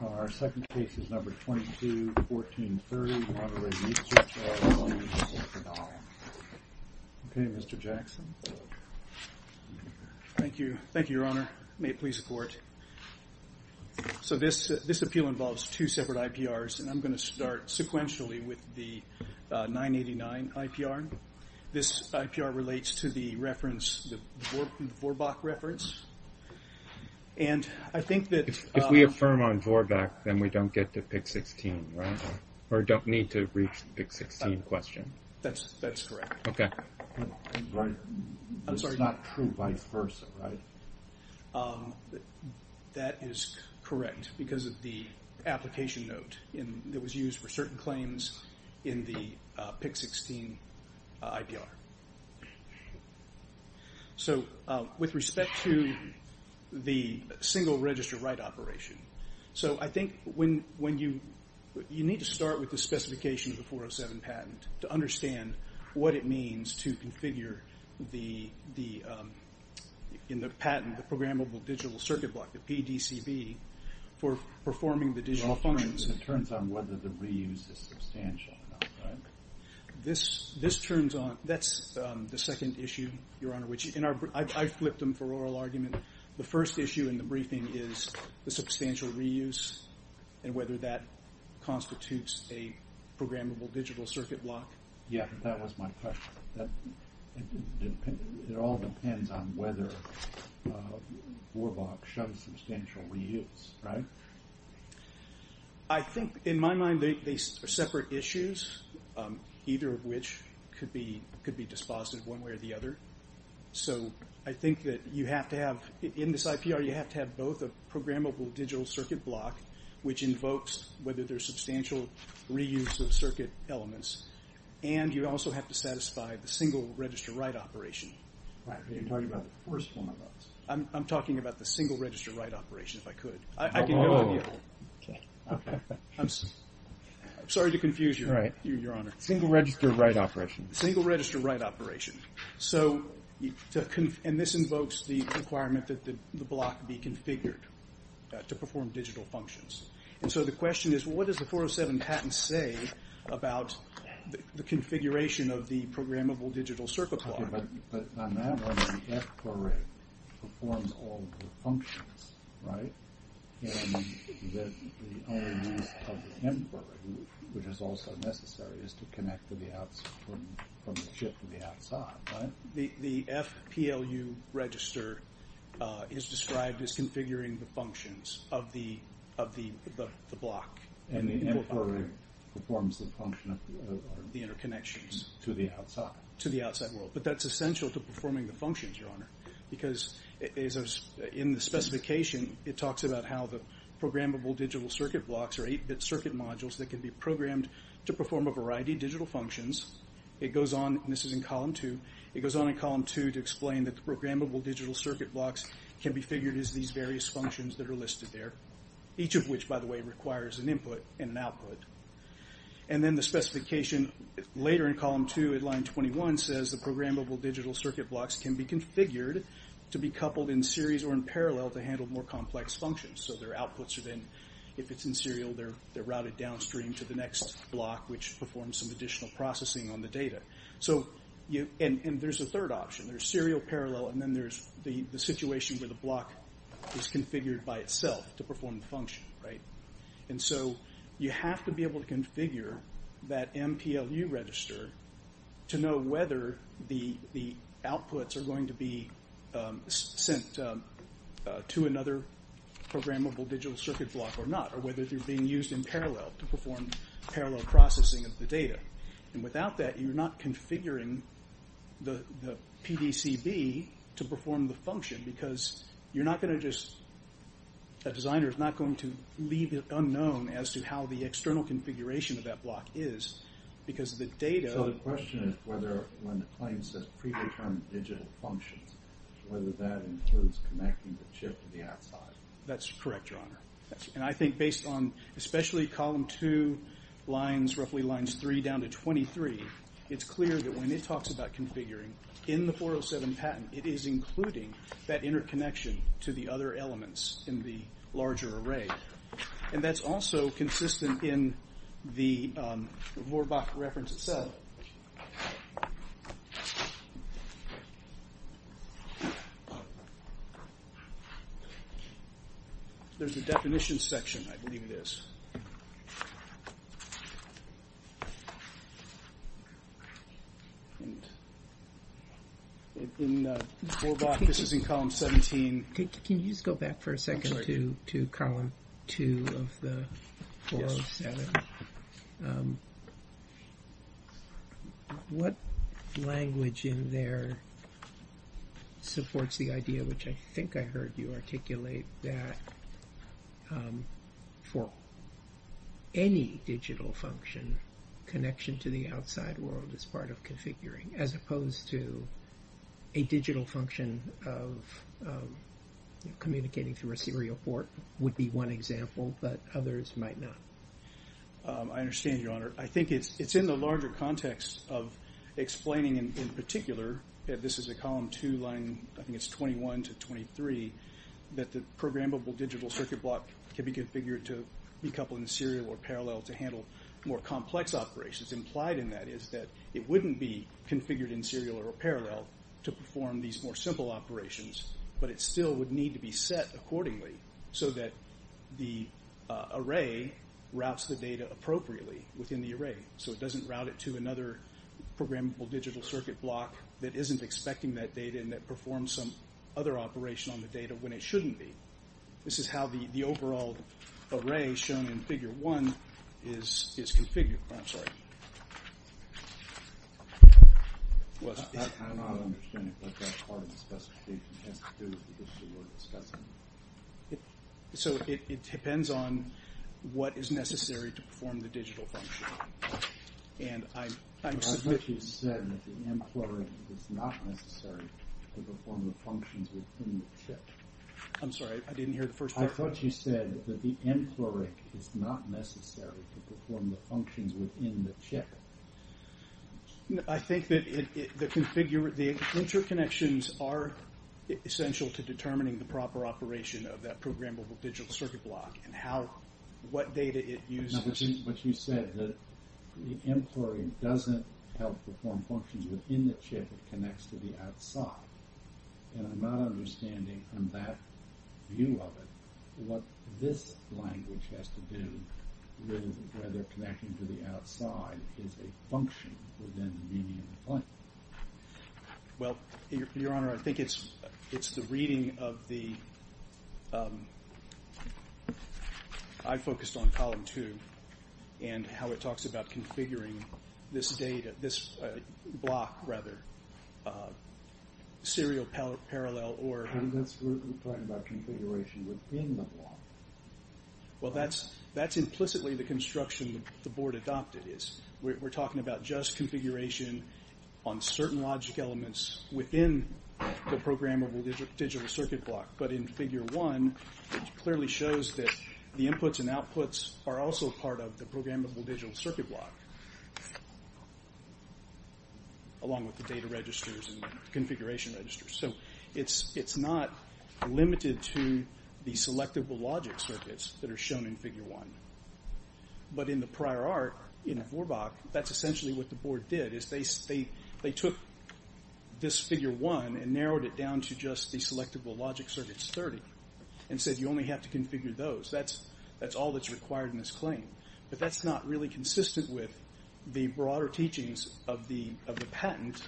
Our second case is number 22-1430, Monterey Research, LLC v. Vidal. Okay, Mr. Jackson. Thank you. Thank you, Your Honor. May it please the Court. So this appeal involves two separate IPRs, and I'm going to start sequentially with the 989 IPR. This IPR relates to the reference, the Vorbach reference, and I think that if we affirm on Vorbach, then we don't get to PIC-16, right? Or don't need to reach the PIC-16 question. That's correct. Okay. This is not true vice versa, right? That is correct because of the application note that was used for certain claims in the PIC-16 IPR. So with respect to the single register write operation, so I think you need to start with the specification of the 407 patent to understand what it means to configure in the patent the programmable digital circuit block, the PDCB, for performing the digital functions. Well, it turns on whether the reuse is substantial or not, right? That's the second issue, Your Honor, which I flipped them for oral argument. The first issue in the briefing is the substantial reuse and whether that constitutes a programmable digital circuit block. Yeah, that was my question. It all depends on whether Vorbach shows substantial reuse, right? I think, in my mind, they are separate issues, either of which could be dispositive one way or the other. So I think that you have to have, in this IPR, you have to have both a programmable digital circuit block, which invokes whether there's substantial reuse of circuit elements, and you also have to satisfy the single register write operation. Right, but you're talking about the first one of those. I'm talking about the single register write operation, if I could. I can go with you. I'm sorry to confuse you, Your Honor. Single register write operation. Single register write operation. And this invokes the requirement that the block be configured to perform digital functions. And so the question is, what does the 407 patent say about the configuration of the programmable digital circuit block? Okay, but on that one, the FPLU performs all of the functions, right? And the only use of the MPLU, which is also necessary, is to connect from the chip to the outside, right? The FPLU register is described as configuring the functions of the block. And the MPLU performs the function of the interconnections to the outside. To the outside world. But that's essential to performing the functions, Your Honor, because in the specification, it talks about how the programmable digital circuit blocks are 8-bit circuit modules that can be programmed to perform a variety of digital functions. It goes on, and this is in Column 2, it goes on in Column 2 to explain that the programmable digital circuit blocks can be figured as these various functions that are listed there, each of which, by the way, requires an input and an output. And then the specification later in Column 2 at Line 21 says the programmable digital circuit blocks can be configured to be coupled in series or in parallel to handle more complex functions. So their outputs are then, if it's in serial, they're routed downstream to the next block, which performs some additional processing on the data. And there's a third option. There's serial parallel, and then there's the situation where the block is configured by itself to perform the function, right? And so you have to be able to configure that MPLU register to know whether the outputs are going to be sent to another programmable digital circuit block or not, or whether they're being used in parallel to perform parallel processing of the data. And without that, you're not configuring the PDCB to perform the function, because you're not going to just... It would be unknown as to how the external configuration of that block is, because the data... So the question is whether when the claim says pre-determined digital functions, whether that includes connecting the chip to the outside. That's correct, Your Honor. And I think based on especially Column 2 lines, roughly lines 3 down to 23, it's clear that when it talks about configuring, in the 407 patent, it is including that interconnection to the other elements in the larger array. And that's also consistent in the Vorbach reference itself. There's a definition section, I believe it is. And in Vorbach, this is in Column 17. Can you just go back for a second to Column 2 of the 407? Yes. What language in there supports the idea, which I think I heard you articulate, that for any digital function, connection to the outside world is part of configuring, as opposed to a digital function of communicating through a serial port would be one example, but others might not. I understand, Your Honor. I think it's in the larger context of explaining in particular, this is a Column 2 line, I think it's 21 to 23, that the programmable digital circuit block can be configured to be coupled in serial or parallel to handle more complex operations. Implied in that is that it wouldn't be configured in serial or parallel to perform these more simple operations, but it still would need to be set accordingly so that the array routes the data appropriately within the array. So it doesn't route it to another programmable digital circuit block that isn't expecting that data and that performs some other operation on the data when it shouldn't be. This is how the overall array shown in Figure 1 is configured. I'm sorry. I'm not understanding what that part of the specification has to do with the issue we're discussing. So it depends on what is necessary to perform the digital function. I thought you said that the mCleric is not necessary to perform the functions within the chip. I'm sorry, I didn't hear the first part. I thought you said that the mCleric is not necessary to perform the functions within the chip. I think that the interconnections are essential to determining the proper operation of that programmable digital circuit block and what data it uses. But you said that the mCleric doesn't help perform functions within the chip. It connects to the outside. And I'm not understanding from that view of it what this language has to do with whether connecting to the outside is a function within the median plane. Well, Your Honor, I think it's the reading of the... I focused on Column 2 and how it talks about configuring this data, this block, rather, serial parallel or... And that's where we're talking about configuration within the block. Well, that's implicitly the construction the Board adopted. We're talking about just configuration on certain logic elements within the programmable digital circuit block. But in Figure 1, it clearly shows that the inputs and outputs are also part of the programmable digital circuit block, along with the data registers and configuration registers. So it's not limited to the selectable logic circuits that are shown in Figure 1. But in the prior arc, in Vorbach, that's essentially what the Board did is they took this Figure 1 and narrowed it down to just the selectable logic circuits, 30, and said you only have to configure those. That's all that's required in this claim. But that's not really consistent with the broader teachings of the patent,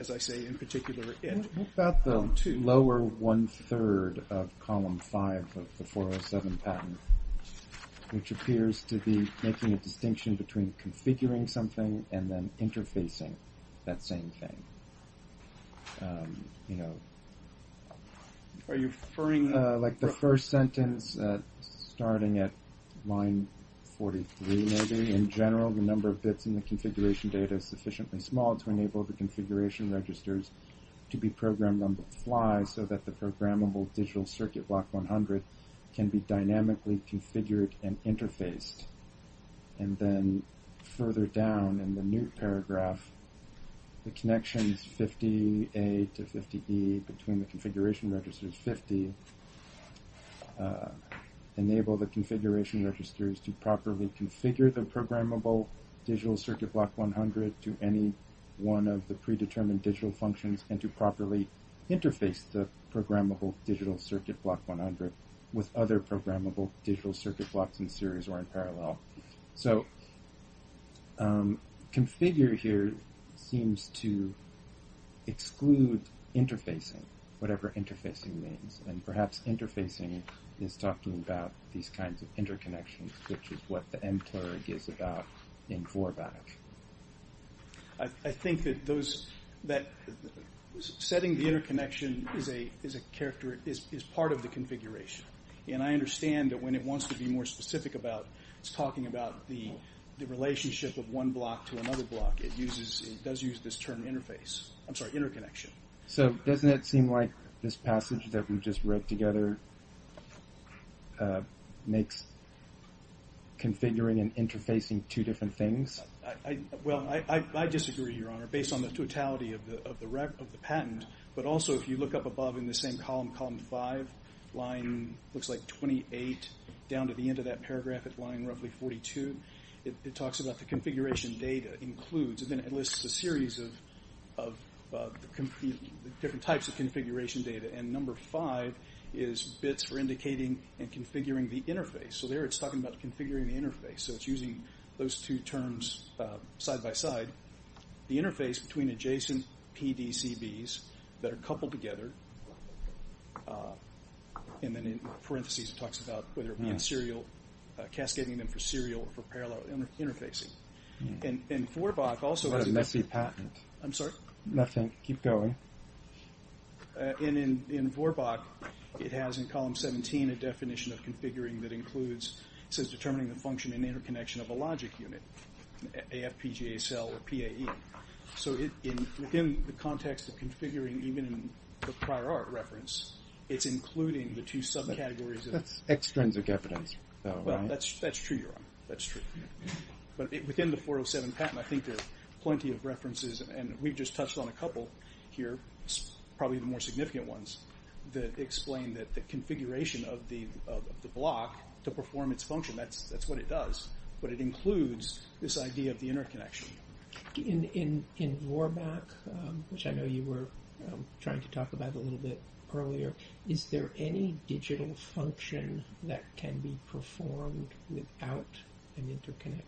as I say, in particular, in Column 2. What about the lower one-third of Column 5 of the 407 patent, which appears to be making a distinction between configuring something and then interfacing that same thing? You know... Are you referring... Like the first sentence, starting at line 43, maybe. In general, the number of bits in the configuration data is sufficiently small to enable the configuration registers to be programmed on the fly so that the programmable digital circuit block 100 can be dynamically configured and interfaced. And then further down in the new paragraph, the connections 50A to 50E between the configuration registers 50 enable the configuration registers to properly configure the programmable digital circuit block 100 to any one of the predetermined digital functions and to properly interface the programmable digital circuit block 100 with other programmable digital circuit blocks in series or in parallel. So... Configure here seems to exclude interfacing, whatever interfacing means. And perhaps interfacing is talking about these kinds of interconnections, which is what the mterg is about in Vorbach. I think that those... Setting the interconnection is part of the configuration. And I understand that when it wants to be more specific about it's talking about the relationship of one block to another block. It does use this term interface. I'm sorry, interconnection. So doesn't it seem like this passage that we just wrote together makes configuring and interfacing two different things? Well, I disagree, Your Honor, based on the totality of the patent. But also if you look up above in the same column, column 5, line looks like 28 down to the end of that paragraph at line roughly 42, it talks about the configuration data includes and then it lists a series of different types of configuration data. And number 5 is bits for indicating and configuring the interface. So there it's talking about configuring the interface. So it's using those two terms side by side. The interface between adjacent PDCBs that are coupled together and then in parentheses it talks about whether it be in serial, cascading them for serial or for parallel interfacing. And in Vorbach also... But it must be patent. I'm sorry? Nothing. Keep going. And in Vorbach it has in column 17 a definition of configuring that includes, it says determining the function and interconnection of a logic unit, AFPGASL or PAE. So within the context of configuring even in the prior art reference, it's including the two subcategories of... Extrinsic evidence. That's true, Your Honor. That's true. But within the 407 patent I think there are plenty of references and we've just touched on a couple here, probably the more significant ones that explain that the configuration of the block to perform its function, that's what it does. But it includes this idea of the interconnection. In Vorbach, which I know you were trying to talk about a little bit earlier, is there any digital function that can be performed without an interconnect?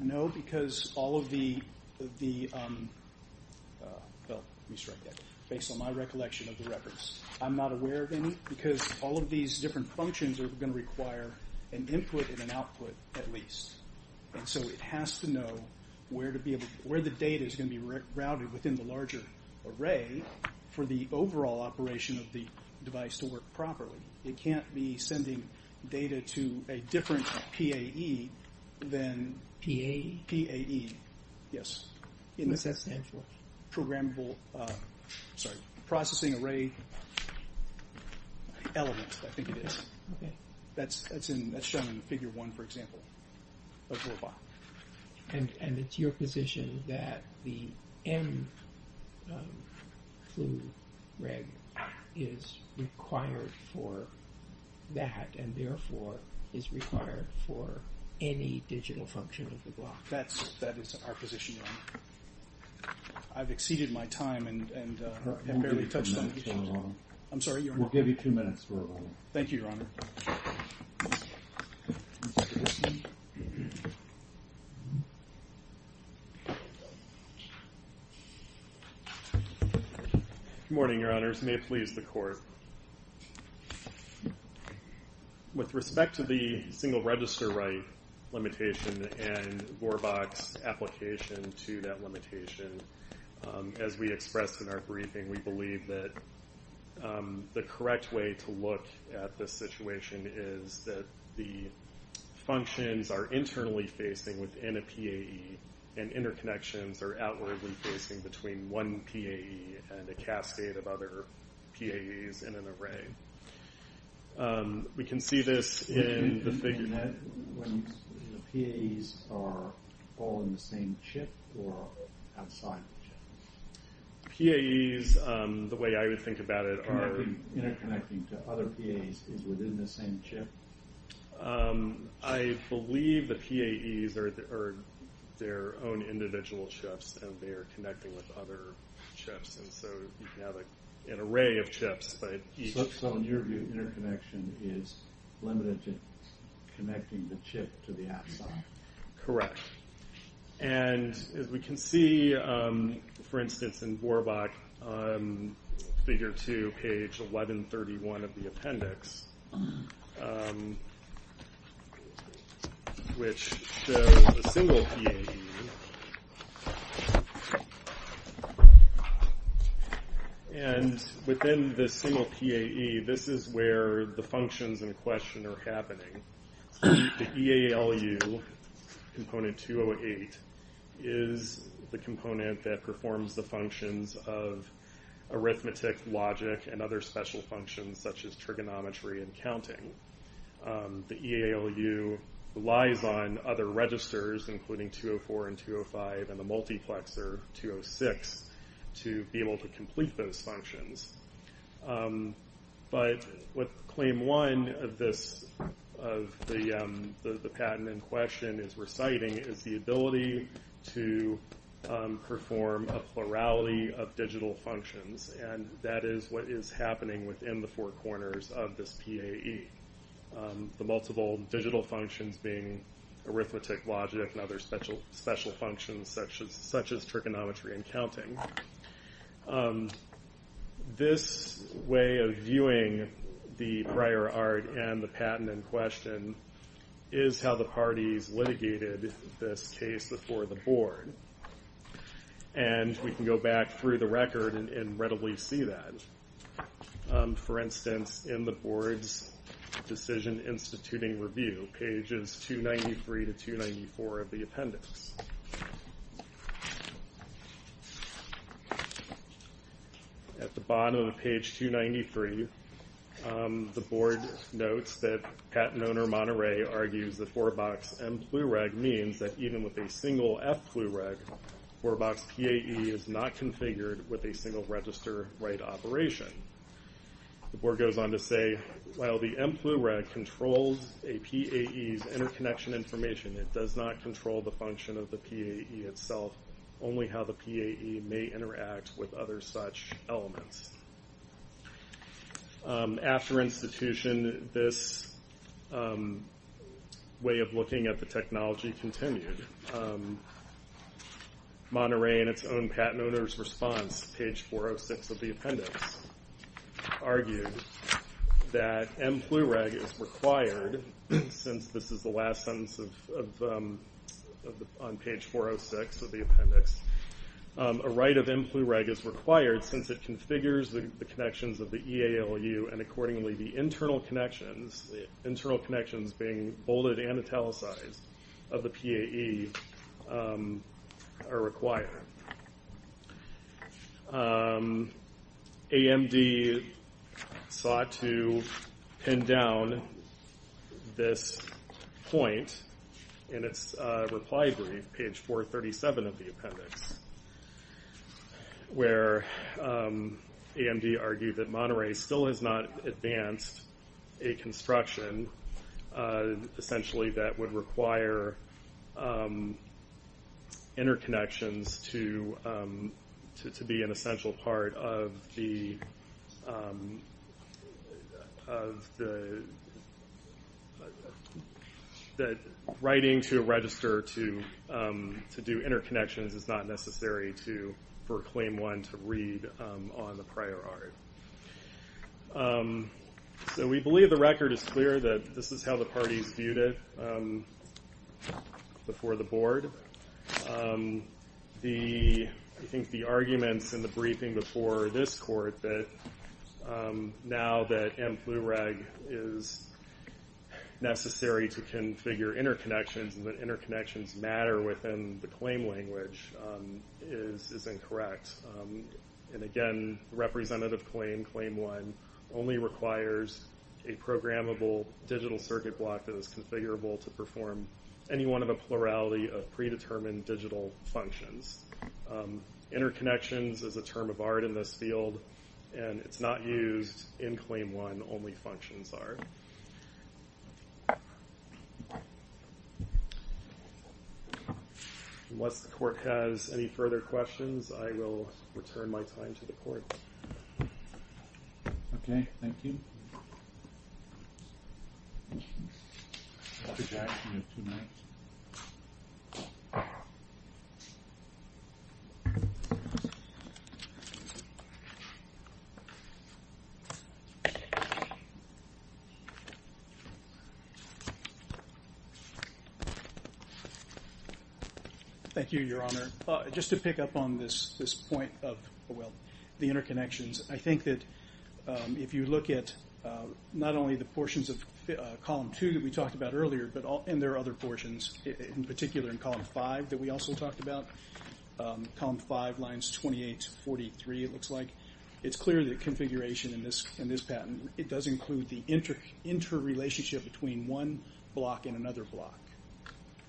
No, because all of the... Based on my recollection of the reference, I'm not aware of any because all of these different functions are going to require an input and an output at least. So it has to know where the data is going to be routed within the larger array for the overall operation of the device to work properly. It can't be sending data to a different PAE than... PAE? PAE, yes. What's that stand for? Programmable processing array element, I think it is. That's shown in Figure 1, for example, of Vorbach. And it's your position that the M clue reg is required for that and therefore is required for any digital function of the block? That is our position, Your Honor. I've exceeded my time and have barely touched on these things. We'll give you two minutes, Your Honor. I'm sorry, Your Honor? We'll give you two minutes, Vorbach. Thank you, Your Honor. Good morning, Your Honors. May it please the Court. With respect to the single register write limitation and Vorbach's application to that limitation, as we expressed in our briefing, we believe that the correct way to look at this situation is that the functions are internally facing within a PAE and interconnections are outwardly facing between one PAE and a cascade of other PAEs in an array. We can see this in the figure. The PAEs are all in the same chip or outside the chip? PAEs, the way I would think about it, are Interconnecting to other PAEs is within the same chip? I believe the PAEs are their own individual chips and they are connecting with other chips, and so you can have an array of chips, but each So in your view, interconnection is limited to connecting the chip to the outside? Correct. And as we can see, for instance, in Vorbach, figure 2, page 1131 of the appendix, which shows a single PAE, and within this single PAE, this is where the functions in question are happening. The EALU, component 208, is the component that performs the functions of arithmetic, logic, and other special functions such as trigonometry and counting. The EALU relies on other registers, including 204 and 205, and the multiplexer, 206, to be able to complete those functions. But what Claim 1 of the patent in question is reciting is the ability to perform a plurality of digital functions, and that is what is happening within the four corners of this PAE. The multiple digital functions being arithmetic, logic, and other special functions such as trigonometry and counting. This way of viewing the prior art and the patent in question is how the parties litigated this case before the board. And we can go back through the record and readily see that. For instance, in the board's decision instituting review, pages 293 to 294 of the appendix. At the bottom of page 293, the board notes that patent owner Monterey argues that 4-box M-Plureg means that even with a single F-Plureg, 4-box PAE is not configured with a single register write operation. The board goes on to say, while the M-Plureg controls a PAE's interconnection information, it does not control the function of the PAE itself, only how the PAE may interact with other such elements. After institution, this way of looking at the technology continued. Monterey in its own patent owner's response, page 406 of the appendix, argued that M-Plureg is required, since this is the last sentence on page 406 of the appendix, a write of M-Plureg is required since it configures the connections of the EALU and accordingly the internal connections, the internal connections being bolded and italicized, of the PAE are required. AMD sought to pin down this point in its reply brief, page 437 of the appendix, where AMD argued that Monterey still has not advanced a construction, essentially that would require interconnections to be an essential part of the, writing to register to do interconnections is not necessary for claim one to read on the prior art. So we believe the record is clear that this is how the parties viewed it before the board. I think the arguments in the briefing before this court that now that M-Plureg is necessary to configure interconnections and that interconnections matter within the claim language is incorrect. And again, representative claim, claim one, only requires a programmable digital circuit block that is configurable to perform any one of the plurality of predetermined digital functions. Interconnections is a term of art in this field and it's not used in claim one, only functions are. Unless the court has any further questions, I will return my time to the court. Okay, thank you. Thank you, Your Honor. Just to pick up on this point of, well, the interconnections, I think that if you look at not only the portions of column two that we talked about earlier, and there are other portions, in particular in column five that we also talked about, column five lines 28 to 43 it looks like, it's clear that configuration in this patent, it does include the interrelationship between one block and another block.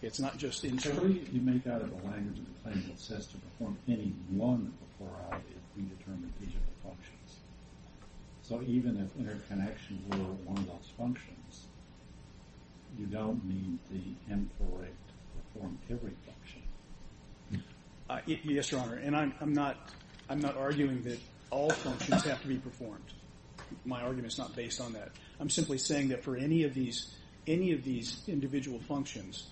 It's not just internal. You make out of the language of the claim that says to perform any one of the plurality of predetermined digital functions. So even if interconnections were one of those functions, you don't need the M4A to perform every function. Yes, Your Honor. And I'm not arguing that all functions have to be performed. My argument is not based on that. I'm simply saying that for any of these individual functions,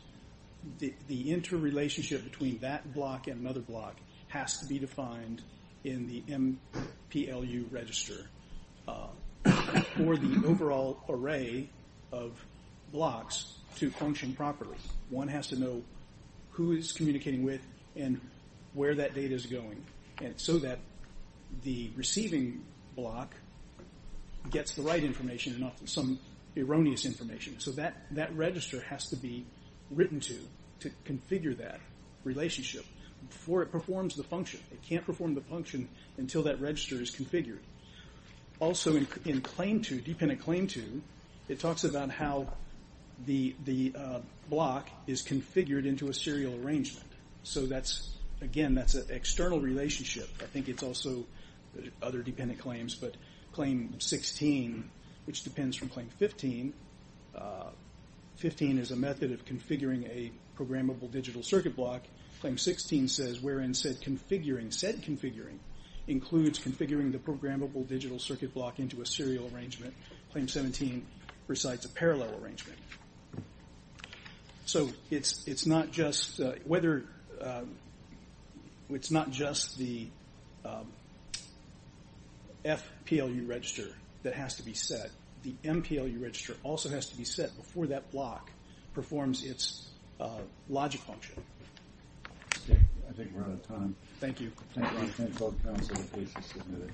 the interrelationship between that block and another block has to be defined in the MPLU register for the overall array of blocks to function properly. One has to know who it's communicating with and where that data is going so that the receiving block gets the right information and not some erroneous information. So that register has to be written to to configure that relationship before it performs the function. It can't perform the function until that register is configured. Also in claim to, dependent claim to, it talks about how the block is configured into a serial arrangement. So that's, again, that's an external relationship. I think it's also other dependent claims, but claim 16, which depends from claim 15, 15 is a method of configuring a programmable digital circuit block. Claim 16 says wherein said configuring includes configuring the programmable digital circuit block into a serial arrangement. Claim 17 recites a parallel arrangement. So it's not just the FPLU register that has to be set. The MPLU register also has to be set before that block performs its logic function. I think we're out of time. Thank you.